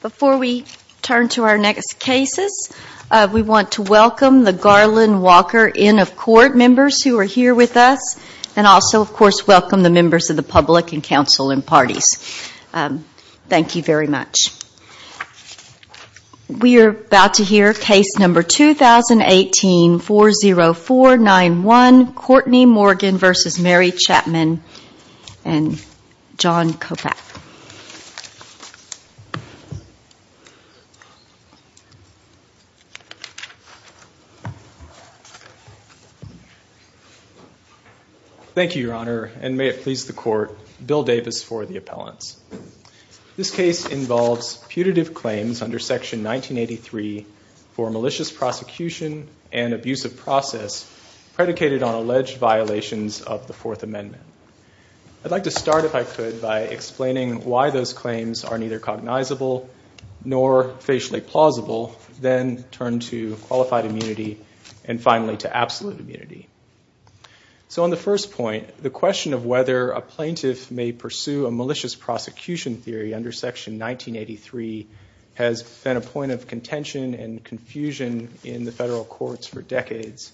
Before we turn to our next cases, we want to welcome the Garland Walker Inn of Court members who are here with us, and also of course welcome the members of the public and council and parties. Thank you very much. We are about to hear case number 2018-40491, Courtney Morgan v. Mary Chapman and John Kopach. Thank you, Your Honor, and may it please the Court, Bill Davis for the appellants. This case involves putative claims under Section 1983 for malicious prosecution and abusive process predicated on alleged violations of the Fourth Amendment. I'd like to start, if I could, by explaining why those claims are neither cognizable nor facially plausible, then turn to qualified immunity, and finally to absolute immunity. So on the first point, the question of whether a plaintiff may pursue a malicious prosecution theory under Section 1983 has been a point of contention and confusion in the federal courts for decades.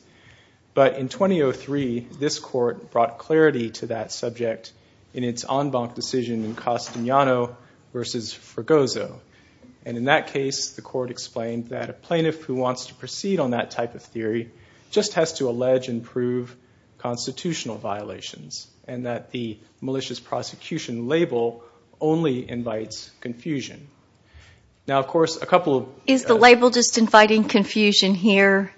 But in 2003, this Court brought clarity to that subject in its en banc decision in Castagnano v. Fregoso. And in that case, the Court explained that a plaintiff who wants to proceed on that type of theory just has to allege and prove constitutional violations, and that the malicious prosecution label only invites confusion. Now, of course, a couple of— Is the label just inviting confusion here?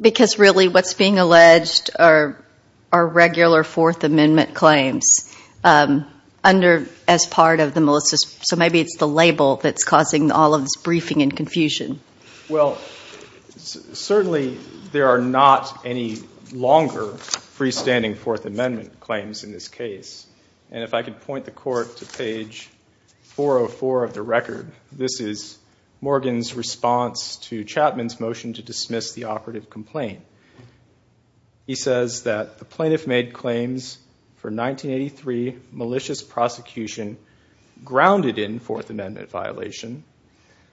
Because really what's being alleged are regular Fourth Amendment claims as part of the malicious— Well, certainly there are not any longer freestanding Fourth Amendment claims in this case. And if I could point the Court to page 404 of the record, this is Morgan's response to Chapman's motion to dismiss the operative complaint. He says that the plaintiff made claims for 1983 malicious prosecution grounded in Fourth Amendment.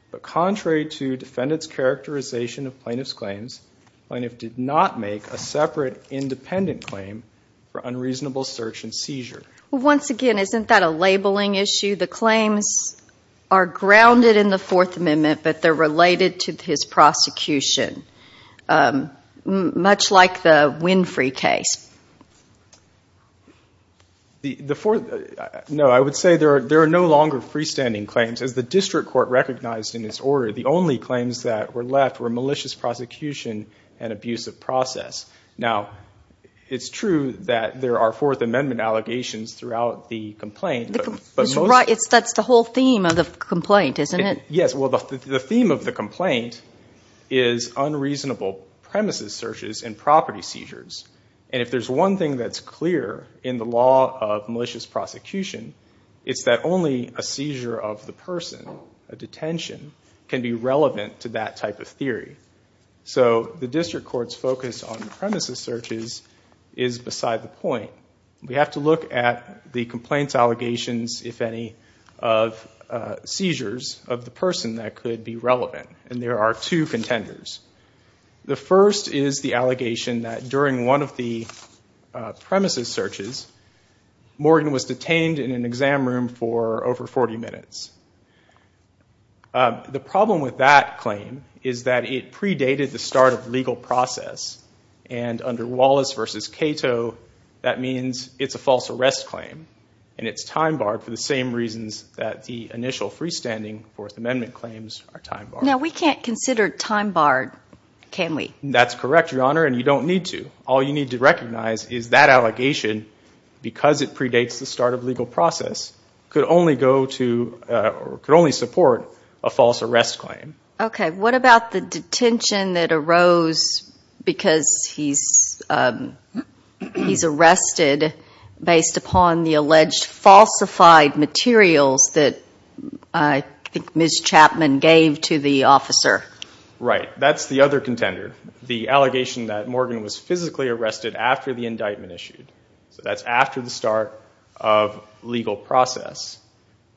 The defendant's characterization of plaintiff's claims, the plaintiff did not make a separate independent claim for unreasonable search and seizure. Well, once again, isn't that a labeling issue? The claims are grounded in the Fourth Amendment, but they're related to his prosecution, much like the Winfrey case. No, I would say there are no longer freestanding claims. As the district court recognized in this order, the only claims that were left were malicious prosecution and abusive process. Now, it's true that there are Fourth Amendment allegations throughout the complaint, but most— That's the whole theme of the complaint, isn't it? Yes. Well, the theme of the complaint is unreasonable premises searches and property seizures. And if there's one thing that's clear in the law of malicious prosecution, it's that only a seizure of the person, a detention, can be relevant to that type of theory. So the district court's focus on premises searches is beside the point. We have to look at the complaints allegations, if any, of seizures of the person that could be relevant. And there are two contenders. The first is the allegation that during one of the premises searches, Morgan was detained in an exam room for over 40 minutes. The problem with that claim is that it predated the start of legal process. And under Wallace v. Cato, that means it's a false arrest claim. And it's time barred for the same reasons that the initial freestanding Fourth Amendment claims are time barred. Now, we can't consider time barred, can we? That's correct, Your Honor, and you don't need to. All you need to recognize is that allegation, because it predates the start of legal process, could only support a false arrest claim. Okay. What about the detention that arose because he's arrested based upon the alleged falsified materials that I think Ms. Chapman gave to the officer? Right. That's the other contender. The allegation that Morgan was physically arrested after the indictment issued. So that's after the start of legal process.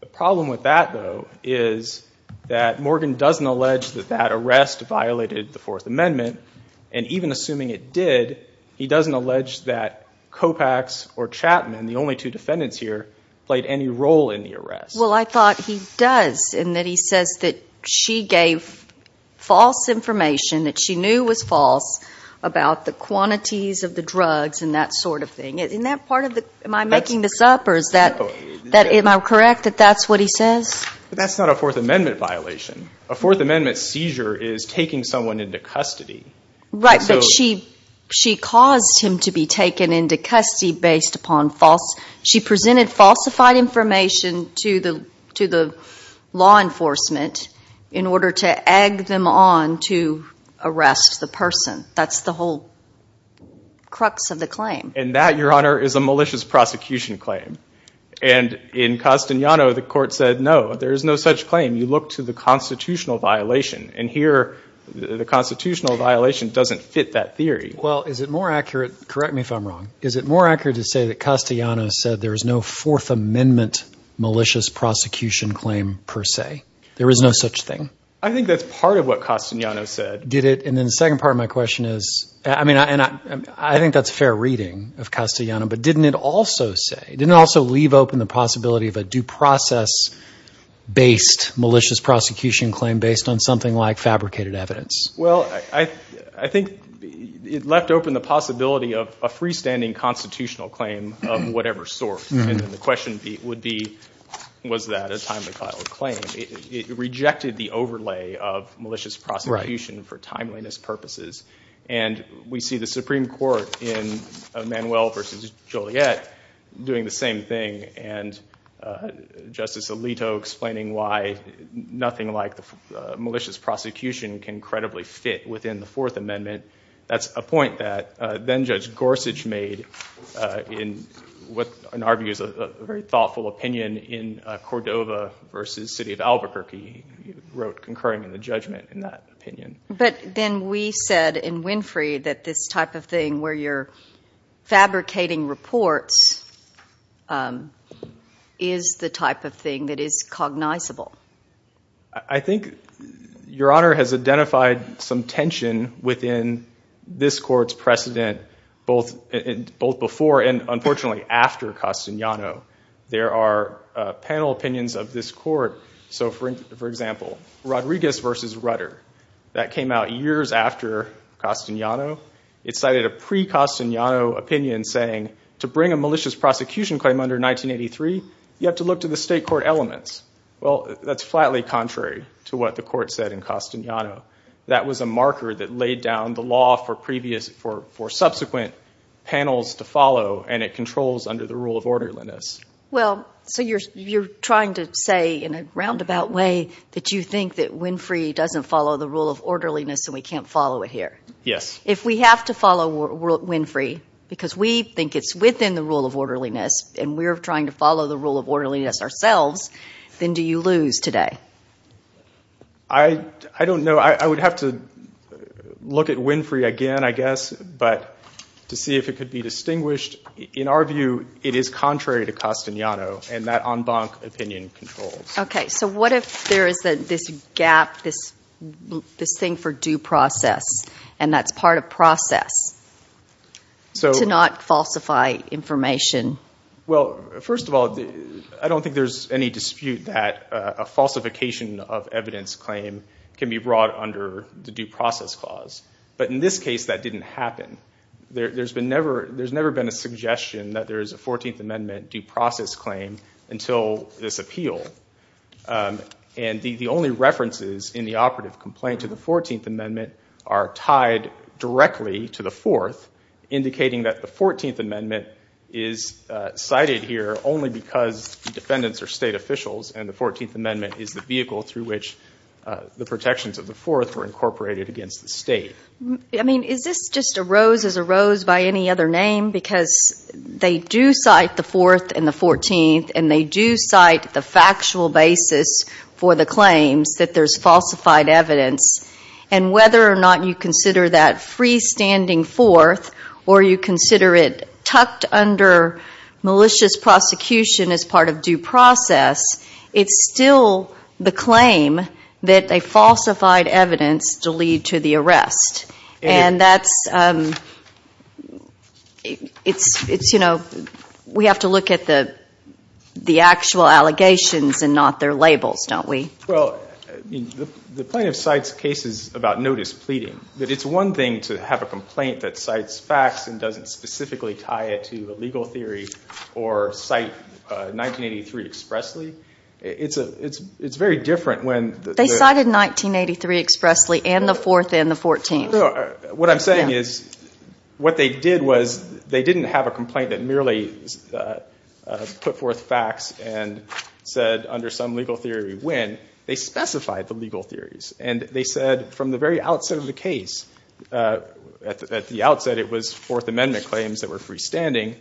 The problem with that, though, is that Morgan doesn't allege that that arrest violated the Fourth Amendment. And even assuming it did, he doesn't allege that Kopach's or Chapman, the only two defendants here, played any role in the arrest. Well, I thought he does in that he says that she gave false information, that she knew was false, about the quantities of the drugs and that sort of thing. Isn't that part of the, am I making this up or is that, am I correct that that's what he says? That's not a Fourth Amendment violation. A Fourth Amendment seizure is taking someone into custody. Right, but she caused him to be taken into custody based upon false, she presented falsified information to the law enforcement in order to egg them on to arrest the person. That's the whole crux of the claim. And that, Your Honor, is a malicious prosecution claim. And in Castellano, the court said, no, there is no such claim. You look to the constitutional violation. And here, the constitutional violation doesn't fit that theory. Well, is it more accurate, correct me if I'm wrong, is it more accurate to say that Castellano said there is no Fourth Amendment malicious prosecution claim per se? There is no such thing? I think that's part of what Castellano said. Did it? And then the second part of my question is, I mean, and I think that's fair reading of Castellano, but didn't it also say, didn't it also leave open the possibility of a due process-based malicious prosecution claim based on something like fabricated evidence? Well, I think it left open the possibility of a freestanding constitutional claim of whatever sort. And the question would be, was that a timely claim? It rejected the overlay of malicious prosecution for timeliness purposes. And we see the Supreme Court in Manuel v. Joliet doing the same thing, and Justice Alito explaining why nothing like the malicious prosecution can credibly fit within the Fourth Amendment. That's a point that then-Judge Gorsuch made in what, in our view, is a very thoughtful opinion in Cordova v. City of Albuquerque. He wrote concurring in the judgment in that opinion. But then we said in Winfrey that this type of thing where you're fabricating reports is the type of thing that is cognizable. I think Your Honor has identified some tension within this court's precedent both before and, unfortunately, after Castellano. There are panel opinions of this court. So for example, Rodriguez v. Rutter. That came out years after Castellano. It cited a pre-Castellano opinion saying, to bring a malicious prosecution claim under 1983, you have to look to the state court elements. Well, that's flatly contrary to what the court said in Castellano. That was a marker that laid down the law for subsequent panels to follow, and it controls under the rule of orderliness. Well, so you're trying to say in a roundabout way that you think that Winfrey doesn't follow the rule of orderliness and we can't follow it here. Yes. If we have to follow Winfrey because we think it's within the rule of orderliness and we're trying to follow the rule of orderliness ourselves, then do you lose today? I don't know. I would have to look at Winfrey again, I guess, but to see if it could be distinguished. In our view, it is contrary to Castellano, and that en banc opinion controls. Okay, so what if there is this gap, this thing for due process, and that's part of process, to not falsify information? Well, first of all, I don't think there's any dispute that a falsification of evidence claim can be brought under the due process clause. But in this case, that didn't happen. There's never been a suggestion that there's a 14th Amendment due process claim until this appeal. And the only references in the operative complaint to the 14th Amendment are tied directly to the 4th, indicating that the 14th Amendment is cited here only because defendants are state officials and the 14th Amendment is the vehicle through which the protections of the 4th were incorporated against the state. I mean, is this just a rose is a rose by any other name? Because they do cite the 4th and the 14th, and they do cite the factual basis for the claims that there's falsified evidence. And whether or not you consider that freestanding 4th, or you consider it tucked under malicious prosecution as part of due process, it's still the claim that a falsified evidence to lead to the arrest. And that's, it's, you know, we have to look at the actual allegations and not their labels, don't we? Well, the plaintiff cites cases about notice pleading. But it's one thing to have a complaint that cites facts and doesn't specifically tie it to a legal theory or cite 1983 expressly. It's very different when the... What I'm saying is what they did was they didn't have a complaint that merely put forth facts and said under some legal theory when. They specified the legal theories. And they said from the very outset of the case, at the outset it was 4th Amendment claims that were freestanding.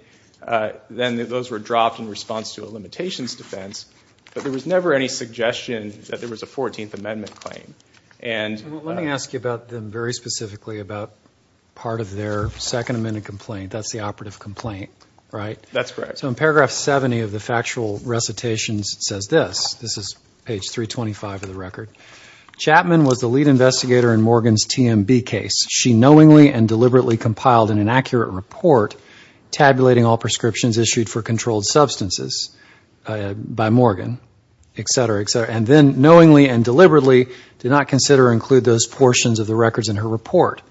Then those were dropped in response to a limitations defense. But there was never any suggestion that there was a 14th Amendment claim. Let me ask you about them very specifically about part of their 2nd Amendment complaint. That's the operative complaint, right? That's correct. So in paragraph 70 of the factual recitations, it says this. This is page 325 of the record. Chapman was the lead investigator in Morgan's TMB case. She knowingly and deliberately compiled an inaccurate report tabulating all prescriptions issued for controlled substances by Morgan, et cetera, et cetera. And then knowingly and deliberately did not consider or include those portions of the records in her report.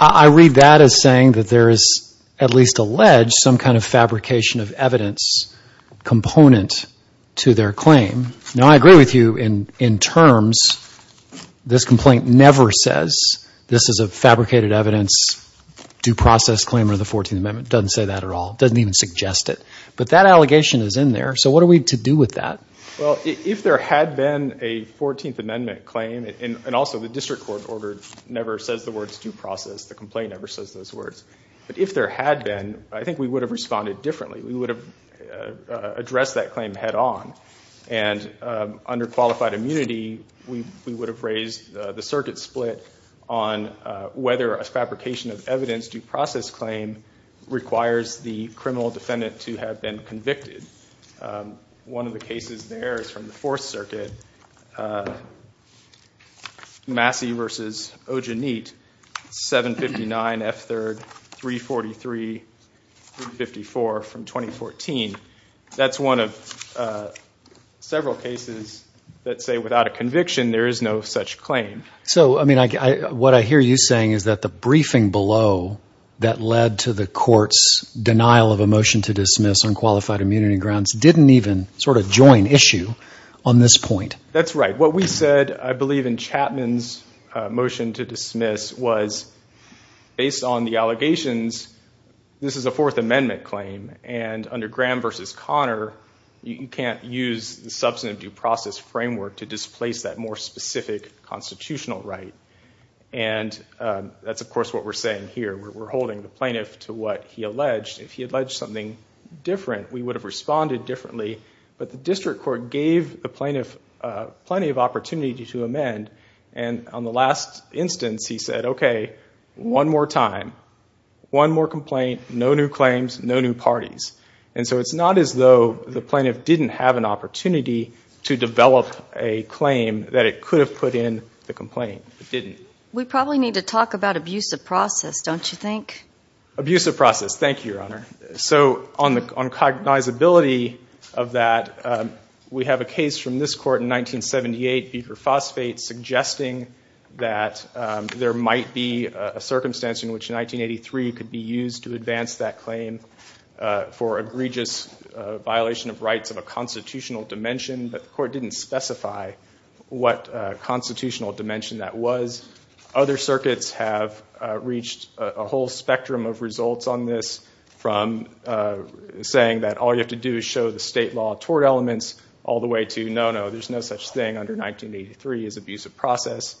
I read that as saying that there is at least alleged some kind of fabrication of evidence component to their claim. Now, I agree with you in terms. This complaint never says this is a fabricated evidence due process claim under the 14th Amendment. It doesn't say that at all. It doesn't even suggest it. But that allegation is in there. So what are we to do with that? Well, if there had been a 14th Amendment claim, and also the district court order never says the words due process. The complaint never says those words. But if there had been, I think we would have responded differently. We would have addressed that claim head on. And under qualified immunity, we would have raised the circuit split on whether a fabrication of evidence due process claim requires the criminal defendant to have been convicted. One of the cases there is from the Fourth Circuit, Massey v. Ojanit, 759 F. 3rd, 343, 354 from 2014. That's one of several cases that say without a conviction, there is no such claim. So, I mean, what I hear you saying is that the briefing below that led to the dismiss on qualified immunity grounds didn't even sort of join issue on this point. That's right. What we said, I believe, in Chapman's motion to dismiss was based on the allegations, this is a Fourth Amendment claim. And under Graham v. Conner, you can't use the substantive due process framework to displace that more specific constitutional right. And that's, of course, what we're saying here. We're holding the plaintiff to what he alleged. If he alleged something different, we would have responded differently. But the district court gave the plaintiff plenty of opportunity to amend. And on the last instance, he said, okay, one more time, one more complaint, no new claims, no new parties. And so it's not as though the plaintiff didn't have an opportunity to develop a claim that it could have put in the complaint. It didn't. We probably need to talk about abusive process, don't you think? Abusive process. Thank you, Your Honor. So on cognizability of that, we have a case from this court in 1978, Beaker Phosphate, suggesting that there might be a circumstance in which in 1983 it could be used to advance that claim for egregious violation of rights of a constitutional dimension. But the court didn't specify what constitutional dimension that was. Other circuits have reached a whole spectrum of results on this from saying that all you have to do is show the state law tort elements all the way to, no, no, there's no such thing under 1983 as abusive process.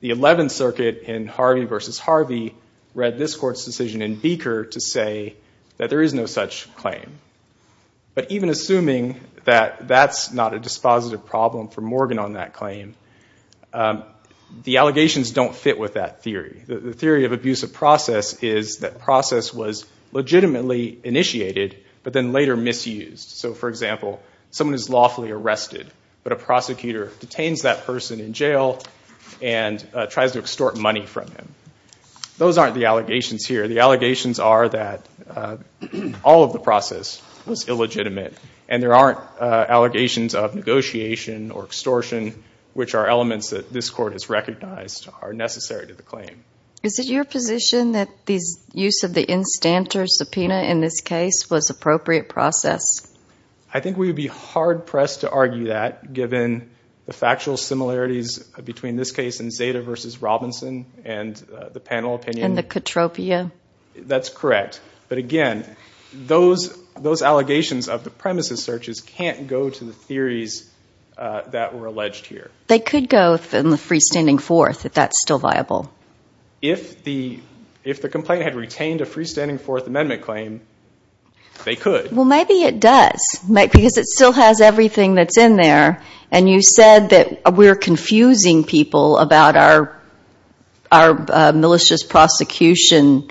The 11th Circuit in Harvey v. Harvey read this court's decision in Beaker to say that there is no such claim. But even assuming that that's not a dispositive problem for Morgan on that allegations don't fit with that theory. The theory of abusive process is that process was legitimately initiated, but then later misused. So, for example, someone is lawfully arrested, but a prosecutor detains that person in jail and tries to extort money from him. Those aren't the allegations here. The allegations are that all of the process was illegitimate, and there aren't allegations of negotiation or extortion, which are elements that this are necessary to the claim. Is it your position that the use of the instanter subpoena in this case was appropriate process? I think we would be hard-pressed to argue that given the factual similarities between this case and Zeta v. Robinson and the panel opinion. And the Katropia? That's correct. But, again, those allegations of the premises searches can't go to the theories that were alleged here. They could go in the freestanding fourth if that's still viable. If the complaint had retained a freestanding fourth amendment claim, they could. Well, maybe it does, because it still has everything that's in there. And you said that we're confusing people about our malicious prosecution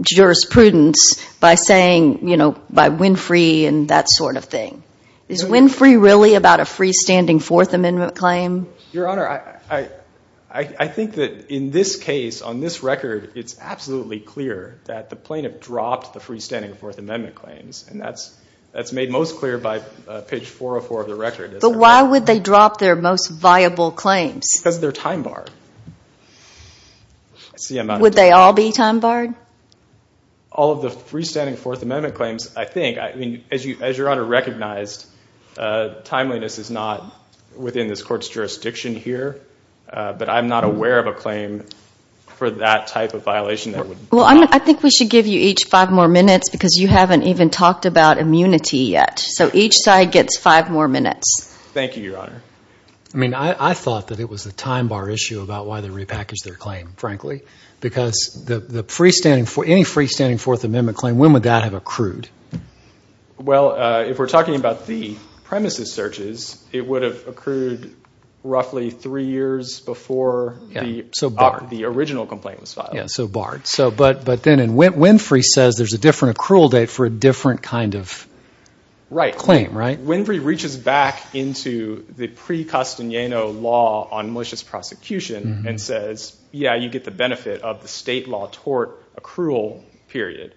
jurisprudence by saying, you know, by Winfrey and that sort of thing. Is Winfrey really about a freestanding fourth amendment claim? Your Honor, I think that in this case, on this record, it's absolutely clear that the plaintiff dropped the freestanding fourth amendment claims. And that's made most clear by page 404 of the record. But why would they drop their most viable claims? Because of their time bar. Would they all be time barred? All of the freestanding fourth amendment claims, I think, as Your Honor recognized, timeliness is not within this court's jurisdiction here. But I'm not aware of a claim for that type of violation. Well, I think we should give you each five more minutes, because you haven't even talked about immunity yet. So each side gets five more minutes. Thank you, Your Honor. I mean, I thought that it was a time bar issue about why they repackaged their claim, frankly. Because any freestanding fourth amendment claim, when would that have accrued? Well, if we're talking about the premises searches, it would have accrued roughly three years before the original complaint was filed. Yeah, so barred. But then Winfrey says there's a different accrual date for a different kind of claim, right? Right. Winfrey reaches back into the pre-Costagnino law on malicious prosecution and says, yeah, you get the benefit of the state law tort accrual period.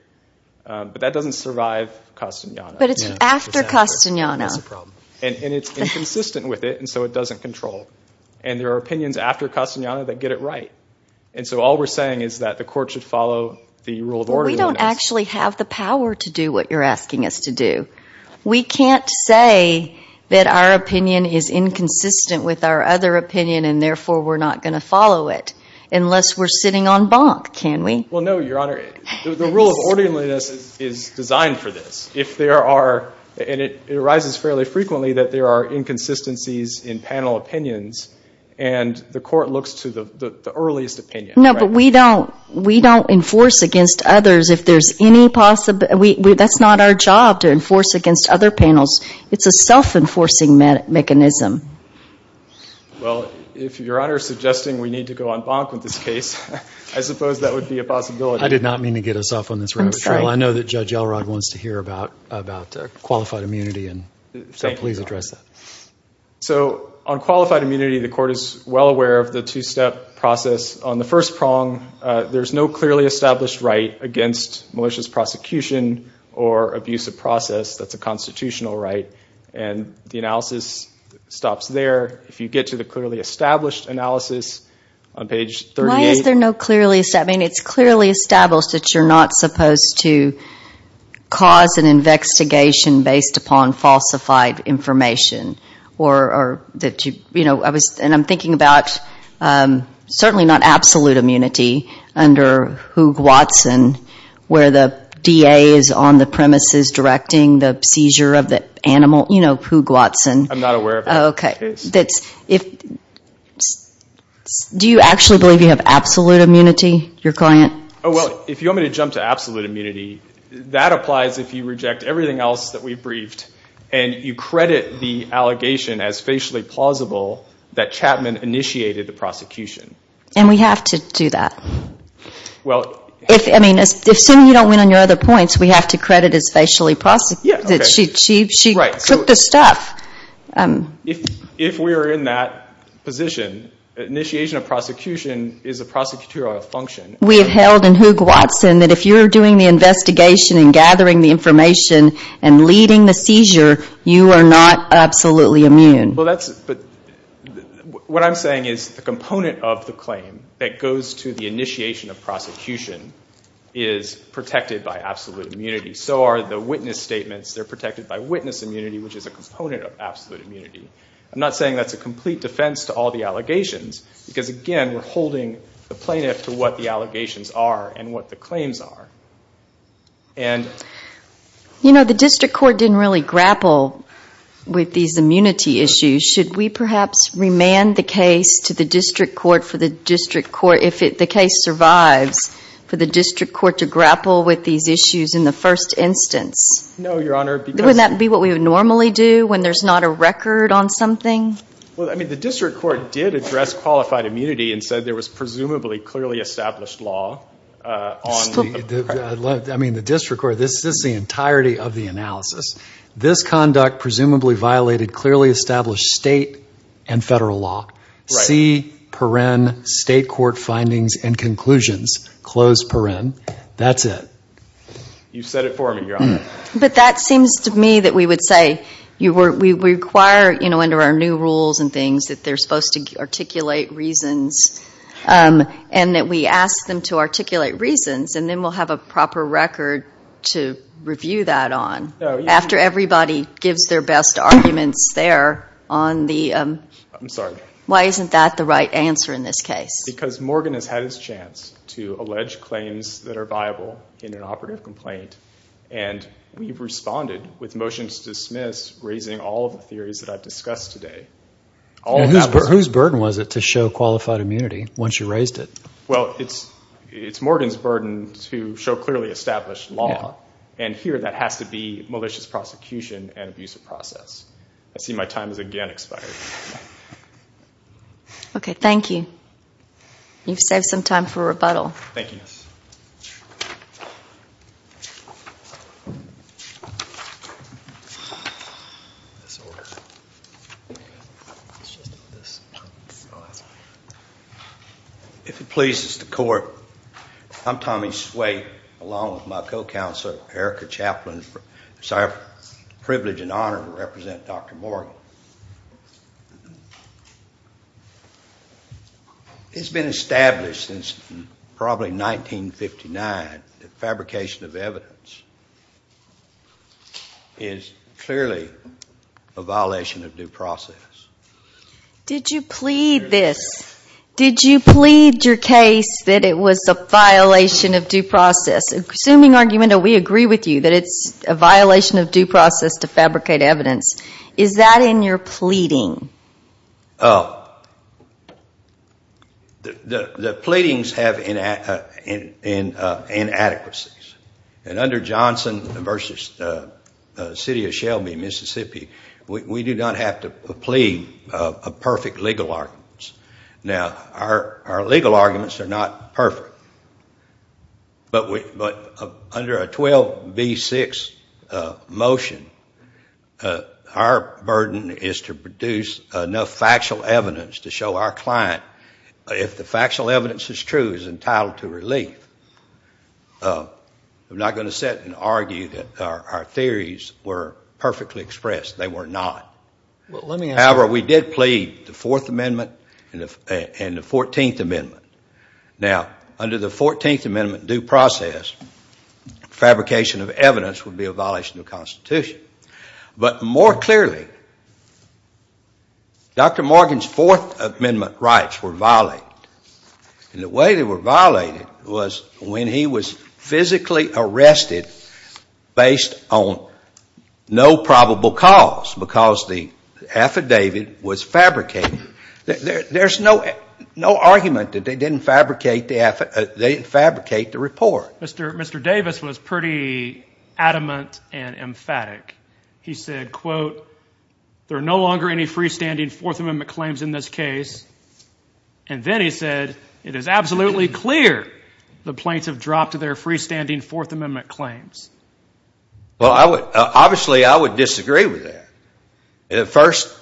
But that doesn't survive Costagnino. But it's after Costagnino. And it's inconsistent with it, and so it doesn't control. And there are opinions after Costagnino that get it right. And so all we're saying is that the court should follow the rule of order. We don't actually have the power to do what you're asking us to do. We can't say that our opinion is inconsistent with our other opinion, and therefore we're not going to follow it unless we're sitting on bonk, can we? Well, no, Your Honor. The rule of orderliness is designed for this. If there are, and it arises fairly frequently, that there are inconsistencies in panel opinions, and the court looks to the earliest opinion. No, but we don't enforce against others if there's any possibility. That's not our job to enforce against other panels. It's a self-enforcing mechanism. Well, if Your Honor is suggesting we need to go on bonk with this case, I suppose that would be a possibility. I did not mean to get us off on this. I'm sorry. I know that Judge Elrod wants to hear about qualified immunity, and so please address that. So on qualified immunity, the court is well aware of the two-step process. On the first prong, there's no clearly established right against malicious prosecution or abuse of process. That's a constitutional right. And the analysis stops there. If you get to the clearly established analysis on page 38. Why is there no clearly established? I mean, it's clearly established that you're not supposed to cause an investigation based upon falsified information. And I'm thinking about certainly not absolute immunity under Hoog-Watson, where the DA is on the premises directing the seizure of the animal. You know, Hoog-Watson. I'm not aware of that case. Okay. Do you actually believe you have absolute immunity, your client? Well, if you want me to jump to absolute immunity, that applies if you reject everything else that we've briefed and you credit the allegation as facially plausible that Chapman initiated the prosecution. And we have to do that. I mean, assuming you don't win on your other points, we have to credit as facially plausible that she took the stuff. If we are in that position, initiation of prosecution is a prosecutorial function. We have held in Hoog-Watson that if you're doing the investigation and gathering the information and leading the seizure, you are not absolutely immune. What I'm saying is the component of the claim that goes to the initiation of prosecution is protected by absolute immunity. So are the witness statements. They're protected by witness immunity, which is a component of absolute immunity. I'm not saying that's a complete defense to all the allegations because, again, we're holding the plaintiff to what the allegations are and what the claims are. And... You know, the district court didn't really grapple with these immunity issues. Should we perhaps remand the case to the district court for the district court, if the case survives, for the district court to grapple with these issues in the first instance? No, Your Honor, because... Wouldn't that be what we would normally do when there's not a record on something? Well, I mean, the district court did address qualified immunity and said there was presumably clearly established law on... I mean, the district court. This is the entirety of the analysis. This conduct presumably violated clearly established state and federal law. C, paren, state court findings and conclusions. Close, paren. That's it. You said it for me, Your Honor. But that seems to me that we would say we require under our new rules and things that they're supposed to articulate reasons and that we ask them to articulate reasons and then we'll have a proper record to review that on. After everybody gives their best arguments there on the... I'm sorry. Why isn't that the right answer in this case? Because Morgan has had his chance to allege claims that are viable in an operative complaint and we've responded with motions to dismiss raising all of the theories that I've discussed today. Whose burden was it to show qualified immunity once you raised it? Well, it's Morgan's burden to show clearly established law and here that has to be malicious prosecution and abusive process. I see my time has again expired. Okay, thank you. You've saved some time for rebuttal. Thank you. Yes. If it pleases the court, I'm Tommy Swate along with my co-counsel Erica Chaplin whose I have the privilege and honor to represent Dr. Morgan. Well, it's been established since probably 1959 that fabrication of evidence is clearly a violation of due process. Did you plead this? Did you plead your case that it was a violation of due process? Assuming argument that we agree with you that it's a violation of due process to fabricate evidence, is that in your pleading? The pleadings have inadequacies and under Johnson v. City of Shelby, Mississippi, we do not have to plead a perfect legal argument. Now, our legal arguments are not perfect but under a 12B6 motion, our burden is to produce enough factual evidence to show our client if the factual evidence is true is entitled to relief. I'm not going to sit and argue that our theories were perfectly expressed. They were not. However, we did plead the Fourth Amendment and the Fourteenth Amendment. Now, under the Fourteenth Amendment due process, fabrication of evidence would be a violation of the Constitution. But more clearly, Dr. Morgan's Fourth Amendment rights were violated and the way they were violated was when he was physically arrested based on no probable cause because the affidavit was fabricated. There's no argument that they didn't fabricate the report. Mr. Davis was pretty adamant and emphatic. He said, quote, there are no longer any freestanding Fourth Amendment claims in this case. And then he said, it is absolutely clear the plaintiffs dropped their freestanding Fourth Amendment claims. Well, obviously I would disagree with that. At first,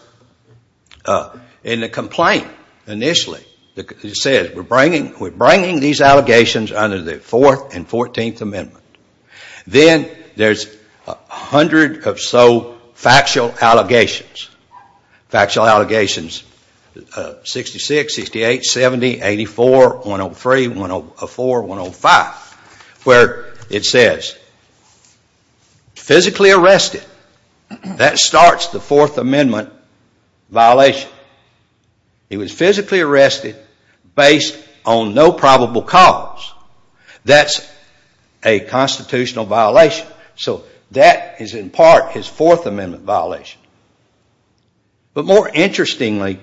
in the complaint initially it says we're bringing these allegations under the Fourth and Fourteenth Amendment. Then there's a hundred or so factual allegations, factual allegations 66, 68, 70, 84, 103, 104, 105, where it says physically arrested. That starts the Fourth Amendment violation. He was physically arrested based on no probable cause. That's a constitutional violation. So that is in part his Fourth Amendment violation. But more interestingly,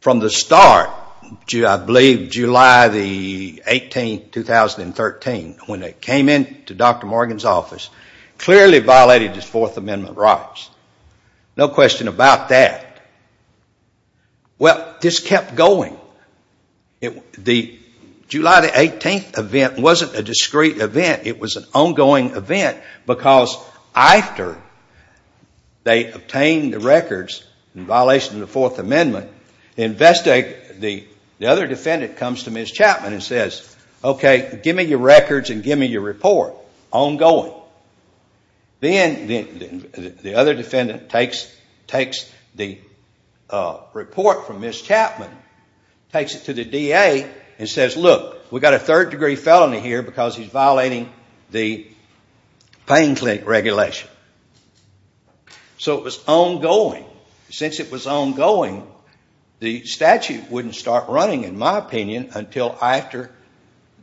from the start, I believe July 18, 2013, when they came into Dr. Morgan's office, clearly violated his Fourth Amendment rights. No question about that. Well, this kept going. The July 18 event wasn't a discrete event. It was an ongoing event because after they obtained the records in violation of the Fourth Amendment, the other defendant comes to Ms. Chapman and says, okay, give me your records and give me your report. Ongoing. Then the other defendant takes the report from Ms. Chapman, takes it to the DA and says, look, we've got a third degree felony here because he's violating the Payne Clinic regulation. So it was ongoing. Since it was ongoing, the statute wouldn't start running, in my opinion, until after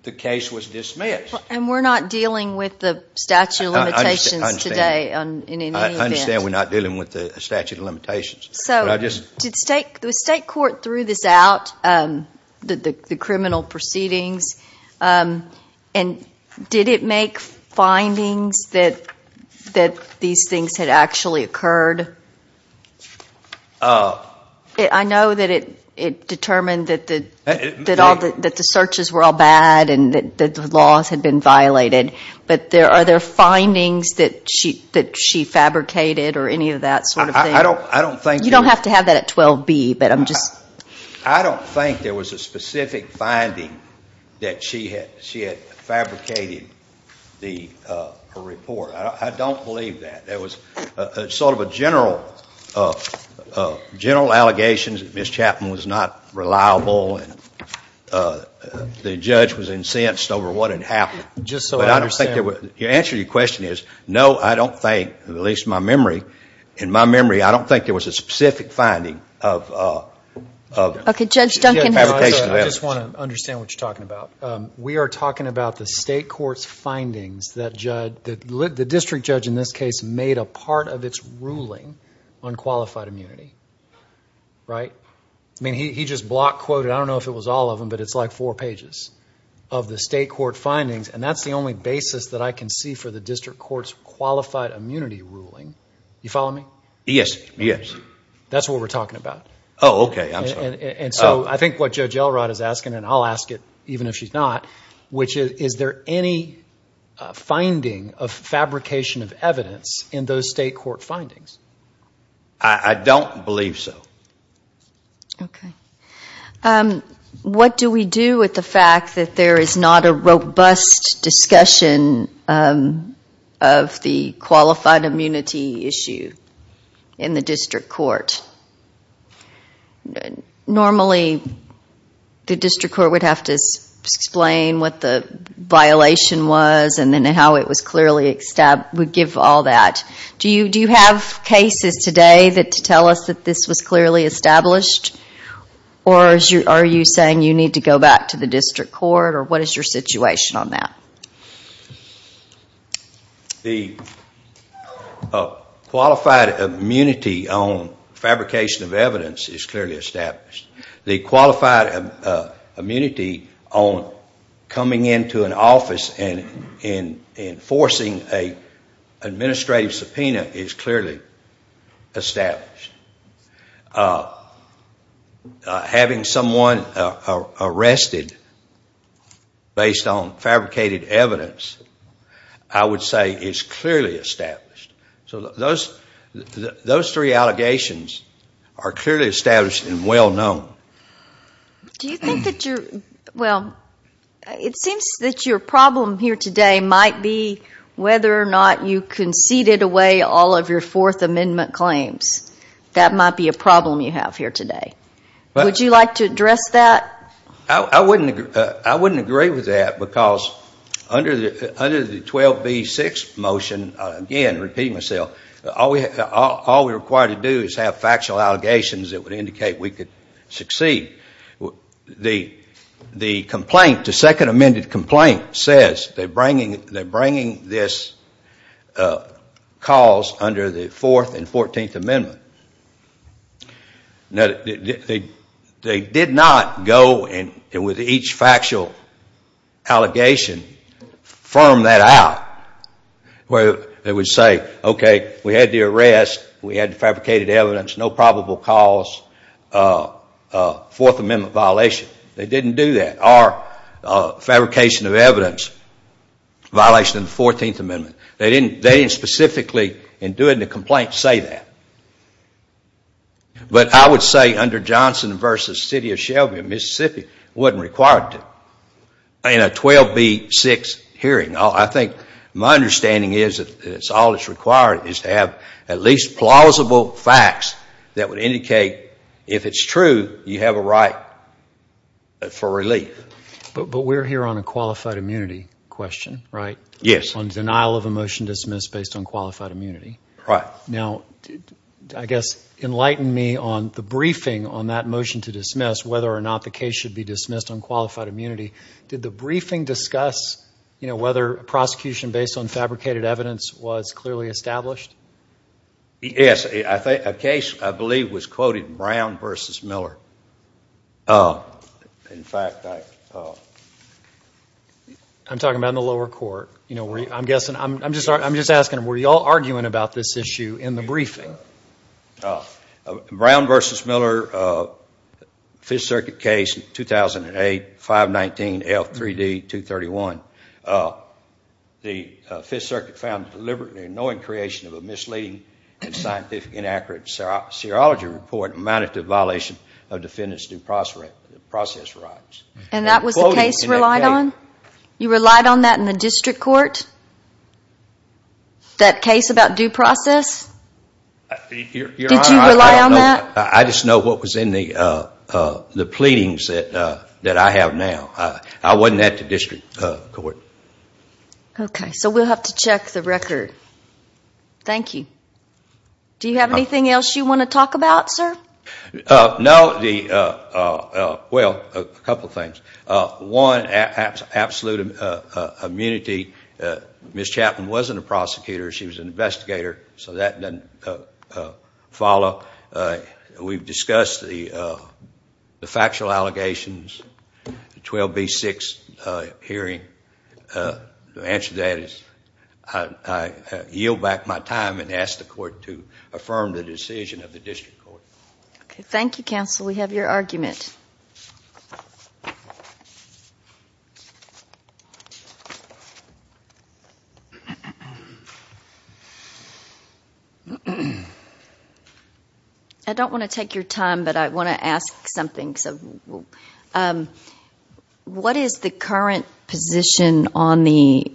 the case was dismissed. And we're not dealing with the statute of limitations today. I understand we're not dealing with the statute of limitations. So the state court threw this out, the criminal proceedings, and did it make findings that these things had actually occurred? I know that it determined that the searches were all bad and that the laws had been violated, but are there findings that she fabricated or any of that sort of thing? You don't have to have that at 12B, but I'm just... I don't think there was a specific finding that she had fabricated her report. I don't believe that. There was sort of a general allegations that Ms. Chapman was not reliable and the judge was incensed over what had happened. Just so I understand... The answer to your question is no, I don't think, at least in my memory, I don't think there was a specific finding of fabrication. I just want to understand what you're talking about. We are talking about the state court's findings that the district judge, in this case, made a part of its ruling on qualified immunity, right? I mean, he just block quoted, I don't know if it was all of them, but it's like four pages of the state court findings, and that's the only basis that I can see for the district court's qualified immunity ruling. You follow me? Yes, yes. That's what we're talking about. Oh, okay, I'm sorry. And so I think what Judge Elrod is asking, and I'll ask it even if she's not, which is, is there any finding of fabrication of evidence in those state court findings? I don't believe so. Okay. What do we do with the fact that there is not a robust discussion of the qualified immunity issue in the district court? Normally the district court would have to explain what the violation was and then how it was clearly established. We give all that. Do you have cases today that tell us that this was clearly established, or are you saying you need to go back to the district court, or what is your situation on that? The qualified immunity on fabrication of evidence is clearly established. The qualified immunity on coming into an office and enforcing an administrative subpoena is clearly established. Having someone arrested based on fabricated evidence I would say is clearly established. So those three allegations are clearly established and well known. Do you think that you're, well, it seems that your problem here today might be whether or not you conceded away all of your Fourth Amendment claims. That might be a problem you have here today. Would you like to address that? I wouldn't agree with that because under the 12B6 motion, again, repeating myself, all we're required to do is have factual allegations that would indicate we could succeed. The complaint, the second amended complaint, says they're bringing this cause under the Fourth and Fourteenth Amendments. They did not go with each factual allegation, firm that out, where they would say, okay, we had the arrest, we had the fabricated evidence, no probable cause, Fourth Amendment violation. They didn't do that, or fabrication of evidence, violation of the Fourteenth Amendment. They didn't specifically, in doing the complaint, say that. But I would say under Johnson v. City of Shelby in Mississippi, it wasn't required to. In a 12B6 hearing, I think my understanding is that all that's required is to have at least plausible facts that would indicate if it's true, you have a right for relief. But we're here on a qualified immunity question, right? Yes. On denial of a motion dismissed based on qualified immunity. Right. Now, I guess enlighten me on the briefing on that motion to dismiss, whether or not the case should be dismissed on qualified immunity. Did the briefing discuss whether prosecution based on fabricated evidence was clearly established? Yes. A case, I believe, was quoted Brown v. Miller. In fact, I... I'm talking about in the lower court. I'm guessing, I'm just asking, were you all arguing about this issue in the briefing? Brown v. Miller, Fifth Circuit case, 2008, 519L3D231. The Fifth Circuit found deliberately annoying creation of a misleading and scientifically inaccurate serology report amounted to a violation of defendants' due process rights. And that was the case relied on? You relied on that in the district court? That case about due process? Did you rely on that? I just know what was in the pleadings that I have now. I wasn't at the district court. Okay. So we'll have to check the record. Thank you. Do you have anything else you want to talk about, sir? No. Well, a couple things. One, absolute immunity. Ms. Chapman wasn't a prosecutor. She was an investigator, so that doesn't follow. We've discussed the factual allegations, the 12B6 hearing. The answer to that is I yield back my time and ask the court to affirm the decision of the district court. Thank you, counsel. We have your argument. I don't want to take your time, but I want to ask something. What is the current position on the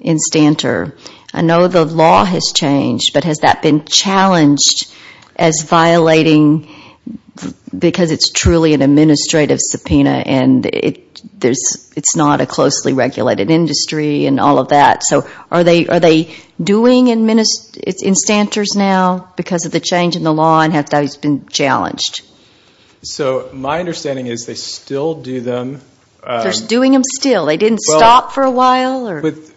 instanter? I know the law has changed, but has that been challenged as violating because it's truly an administrative subpoena and it's not a closely regulated industry and all of that? So are they doing instanters now because of the change in the law and has that always been challenged? So my understanding is they still do them. They're doing them still. They didn't stop for a while?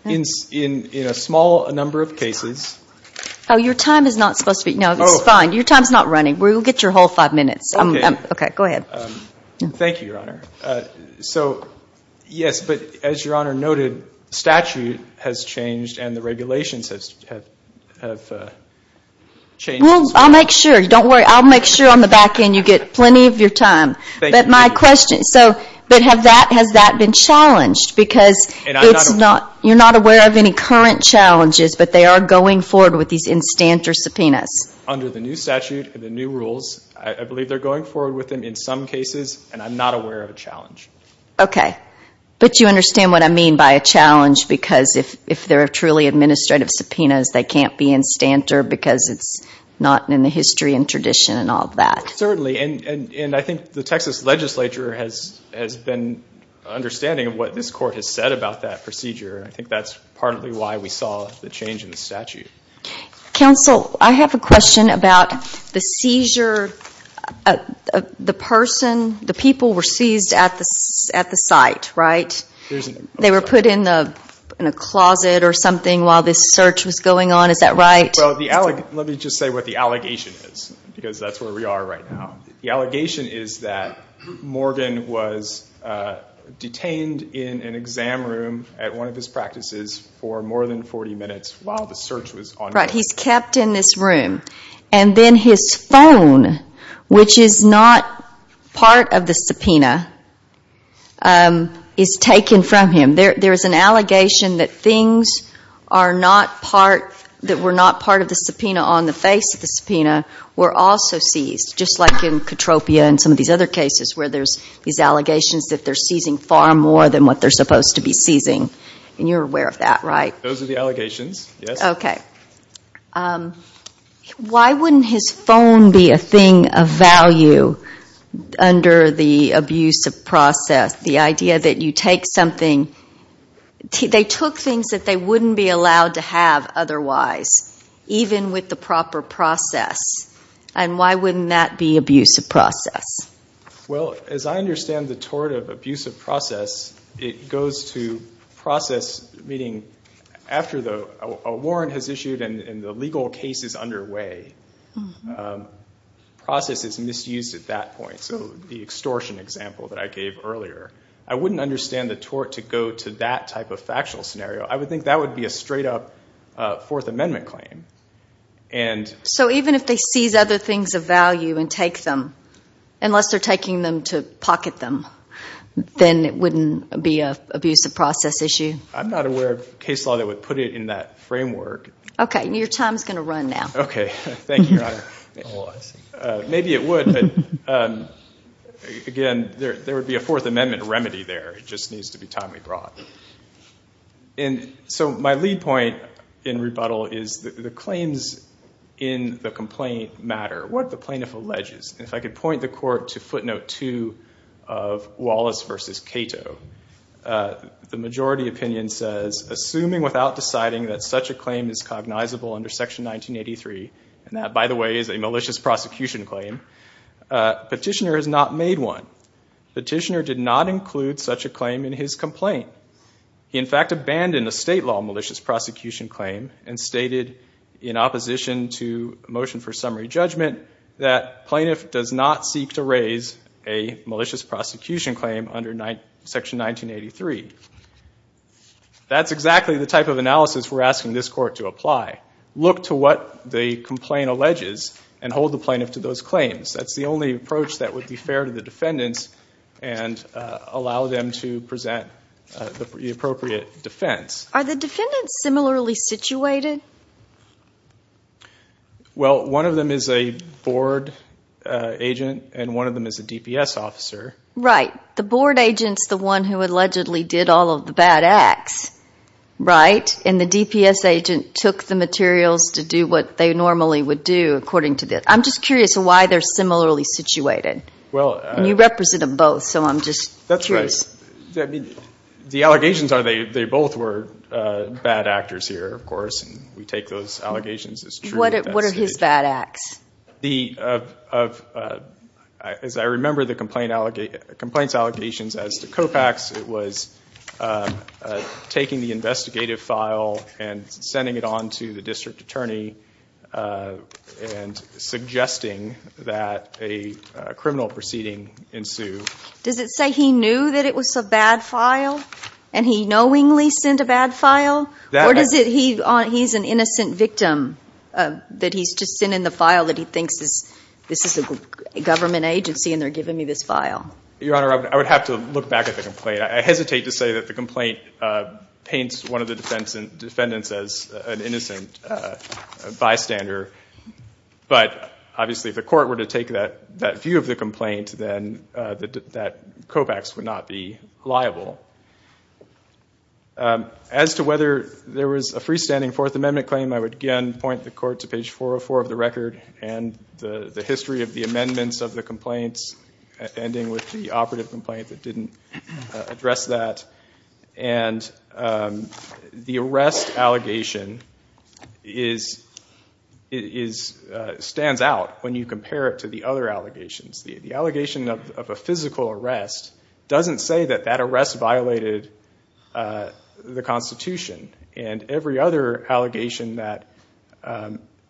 In a small number of cases. Oh, your time is not supposed to be. No, it's fine. Your time is not running. Okay. Go ahead. Thank you, Your Honor. So, yes, but as Your Honor noted, statute has changed and the regulations have changed. Well, I'll make sure. Don't worry. I'll make sure on the back end you get plenty of your time. Thank you. But my question, but has that been challenged because you're not aware of any current challenges, but they are going forward with these instanter subpoenas? Under the new statute and the new rules, I believe they're going forward with them in some cases, and I'm not aware of a challenge. Okay. But you understand what I mean by a challenge because if they're truly administrative subpoenas, they can't be instanter because it's not in the history and tradition and all of that. Certainly, and I think the Texas legislature has been understanding of what this court has said about that procedure. I think that's partly why we saw the change in the statute. Counsel, I have a question about the seizure. The person, the people were seized at the site, right? They were put in a closet or something while this search was going on. Is that right? Well, let me just say what the allegation is because that's where we are right now. The allegation is that Morgan was detained in an exam room at one of his practices for more than 40 minutes while the search was ongoing. Right. He's kept in this room. And then his phone, which is not part of the subpoena, is taken from him. There is an allegation that things that were not part of the subpoena on the face of the subpoena were also seized, just like in Katropia and some of these other cases where there's these allegations that they're seizing far more than what they're supposed to be seizing, and you're aware of that, right? Those are the allegations, yes. Okay. Why wouldn't his phone be a thing of value under the abuse of process, the idea that you take something? They took things that they wouldn't be allowed to have otherwise, even with the proper process. Well, as I understand the tort of abuse of process, it goes to process, meaning after a warrant has issued and the legal case is underway, process is misused at that point. So the extortion example that I gave earlier, I wouldn't understand the tort to go to that type of factual scenario. I would think that would be a straight-up Fourth Amendment claim. So even if they seize other things of value and take them, unless they're taking them to pocket them, then it wouldn't be an abuse of process issue? I'm not aware of a case law that would put it in that framework. Okay. Your time is going to run now. Okay. Thank you, Your Honor. Maybe it would, but, again, there would be a Fourth Amendment remedy there. It just needs to be timely brought. So my lead point in rebuttal is the claims in the complaint matter. What the plaintiff alleges, if I could point the court to footnote 2 of Wallace v. Cato, the majority opinion says, assuming without deciding that such a claim is cognizable under Section 1983, and that, by the way, is a malicious prosecution claim, petitioner has not made one. Petitioner did not include such a claim in his complaint. He, in fact, abandoned a state law malicious prosecution claim and stated, in opposition to a motion for summary judgment, that plaintiff does not seek to raise a malicious prosecution claim under Section 1983. That's exactly the type of analysis we're asking this court to apply. Look to what the complaint alleges and hold the plaintiff to those claims. That's the only approach that would be fair to the defendants and allow them to present the appropriate defense. Are the defendants similarly situated? Well, one of them is a board agent and one of them is a DPS officer. Right. The board agent's the one who allegedly did all of the bad acts, right? And the DPS agent took the materials to do what they normally would do, according to this. I'm just curious why they're similarly situated, and you represent them both, so I'm just curious. That's right. The allegations are they both were bad actors here, of course, and we take those allegations as true. What are his bad acts? As I remember the complaint's allegations as to COPAX, it was taking the investigative file and sending it on to the district attorney and suggesting that a criminal proceeding ensue. Does it say he knew that it was a bad file and he knowingly sent a bad file? Or does it he's an innocent victim that he's just sent in the file that he thinks this is a government agency and they're giving me this file? Your Honor, I would have to look back at the complaint. I hesitate to say that the complaint paints one of the defendants as an innocent bystander, but obviously if the court were to take that view of the complaint, then that COPAX would not be liable. As to whether there was a freestanding Fourth Amendment claim, I would again point the court to page 404 of the record and the history of the amendments of the complaints, ending with the operative complaint that didn't address that. And the arrest allegation stands out when you compare it to the other allegations. The allegation of a physical arrest doesn't say that that arrest violated the Constitution. And every other allegation that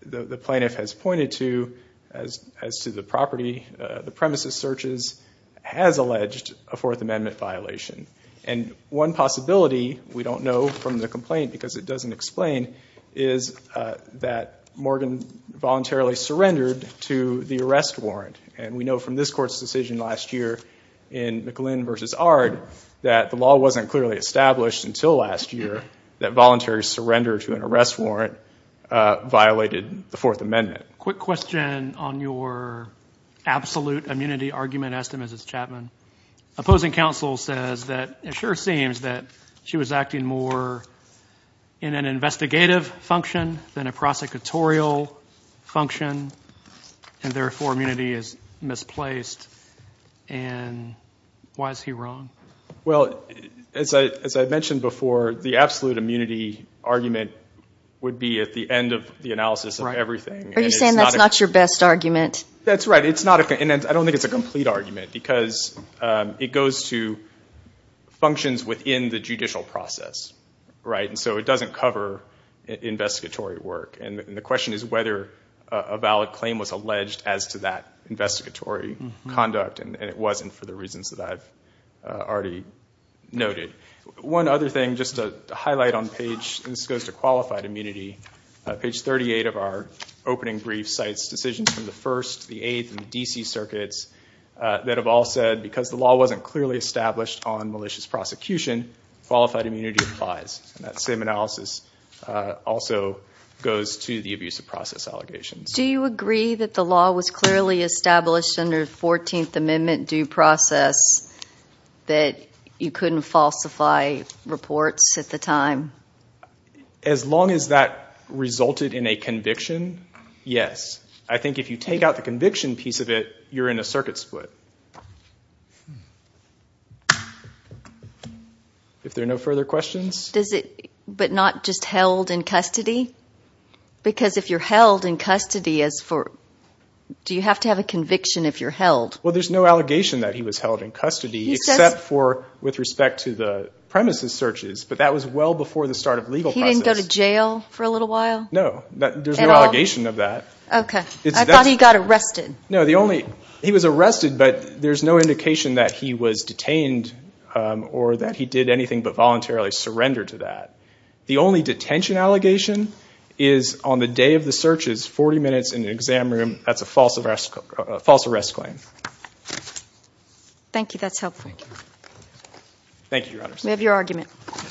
the plaintiff has pointed to as to the property, the premises searches, has alleged a Fourth Amendment violation. And one possibility we don't know from the complaint because it doesn't explain, is that Morgan voluntarily surrendered to the arrest warrant. And we know from this court's decision last year in McGlynn v. Ard that the law wasn't clearly established until last year that voluntary surrender to an arrest warrant violated the Fourth Amendment. Quick question on your absolute immunity argument, Estime, as is Chapman. Opposing counsel says that it sure seems that she was acting more in an investigative function than a prosecutorial function, and therefore immunity is misplaced. And why is he wrong? Well, as I mentioned before, the absolute immunity argument would be at the end of the analysis of everything. Are you saying that's not your best argument? That's right. And I don't think it's a complete argument because it goes to functions within the judicial process. And so it doesn't cover investigatory work. And the question is whether a valid claim was alleged as to that investigatory conduct, and it wasn't for the reasons that I've already noted. One other thing, just to highlight on page, and this goes to qualified immunity, page 38 of our opening brief cites decisions from the First, the Eighth, and the D.C. circuits that have all said because the law wasn't clearly established on malicious prosecution, qualified immunity applies. And that same analysis also goes to the abuse of process allegations. Do you agree that the law was clearly established under 14th Amendment due process that you couldn't falsify reports at the time? As long as that resulted in a conviction, yes. I think if you take out the conviction piece of it, you're in a circuit split. If there are no further questions? But not just held in custody? Because if you're held in custody, do you have to have a conviction if you're held? Well, there's no allegation that he was held in custody except with respect to the premises searches. But that was well before the start of the legal process. He didn't go to jail for a little while? No. There's no allegation of that. Okay. I thought he got arrested. No. He was arrested, but there's no indication that he was detained or that he did anything but voluntarily surrender to that. The only detention allegation is on the day of the searches, 40 minutes in the exam room. That's a false arrest claim. Thank you. That's helpful. Thank you, Your Honors. We have your argument.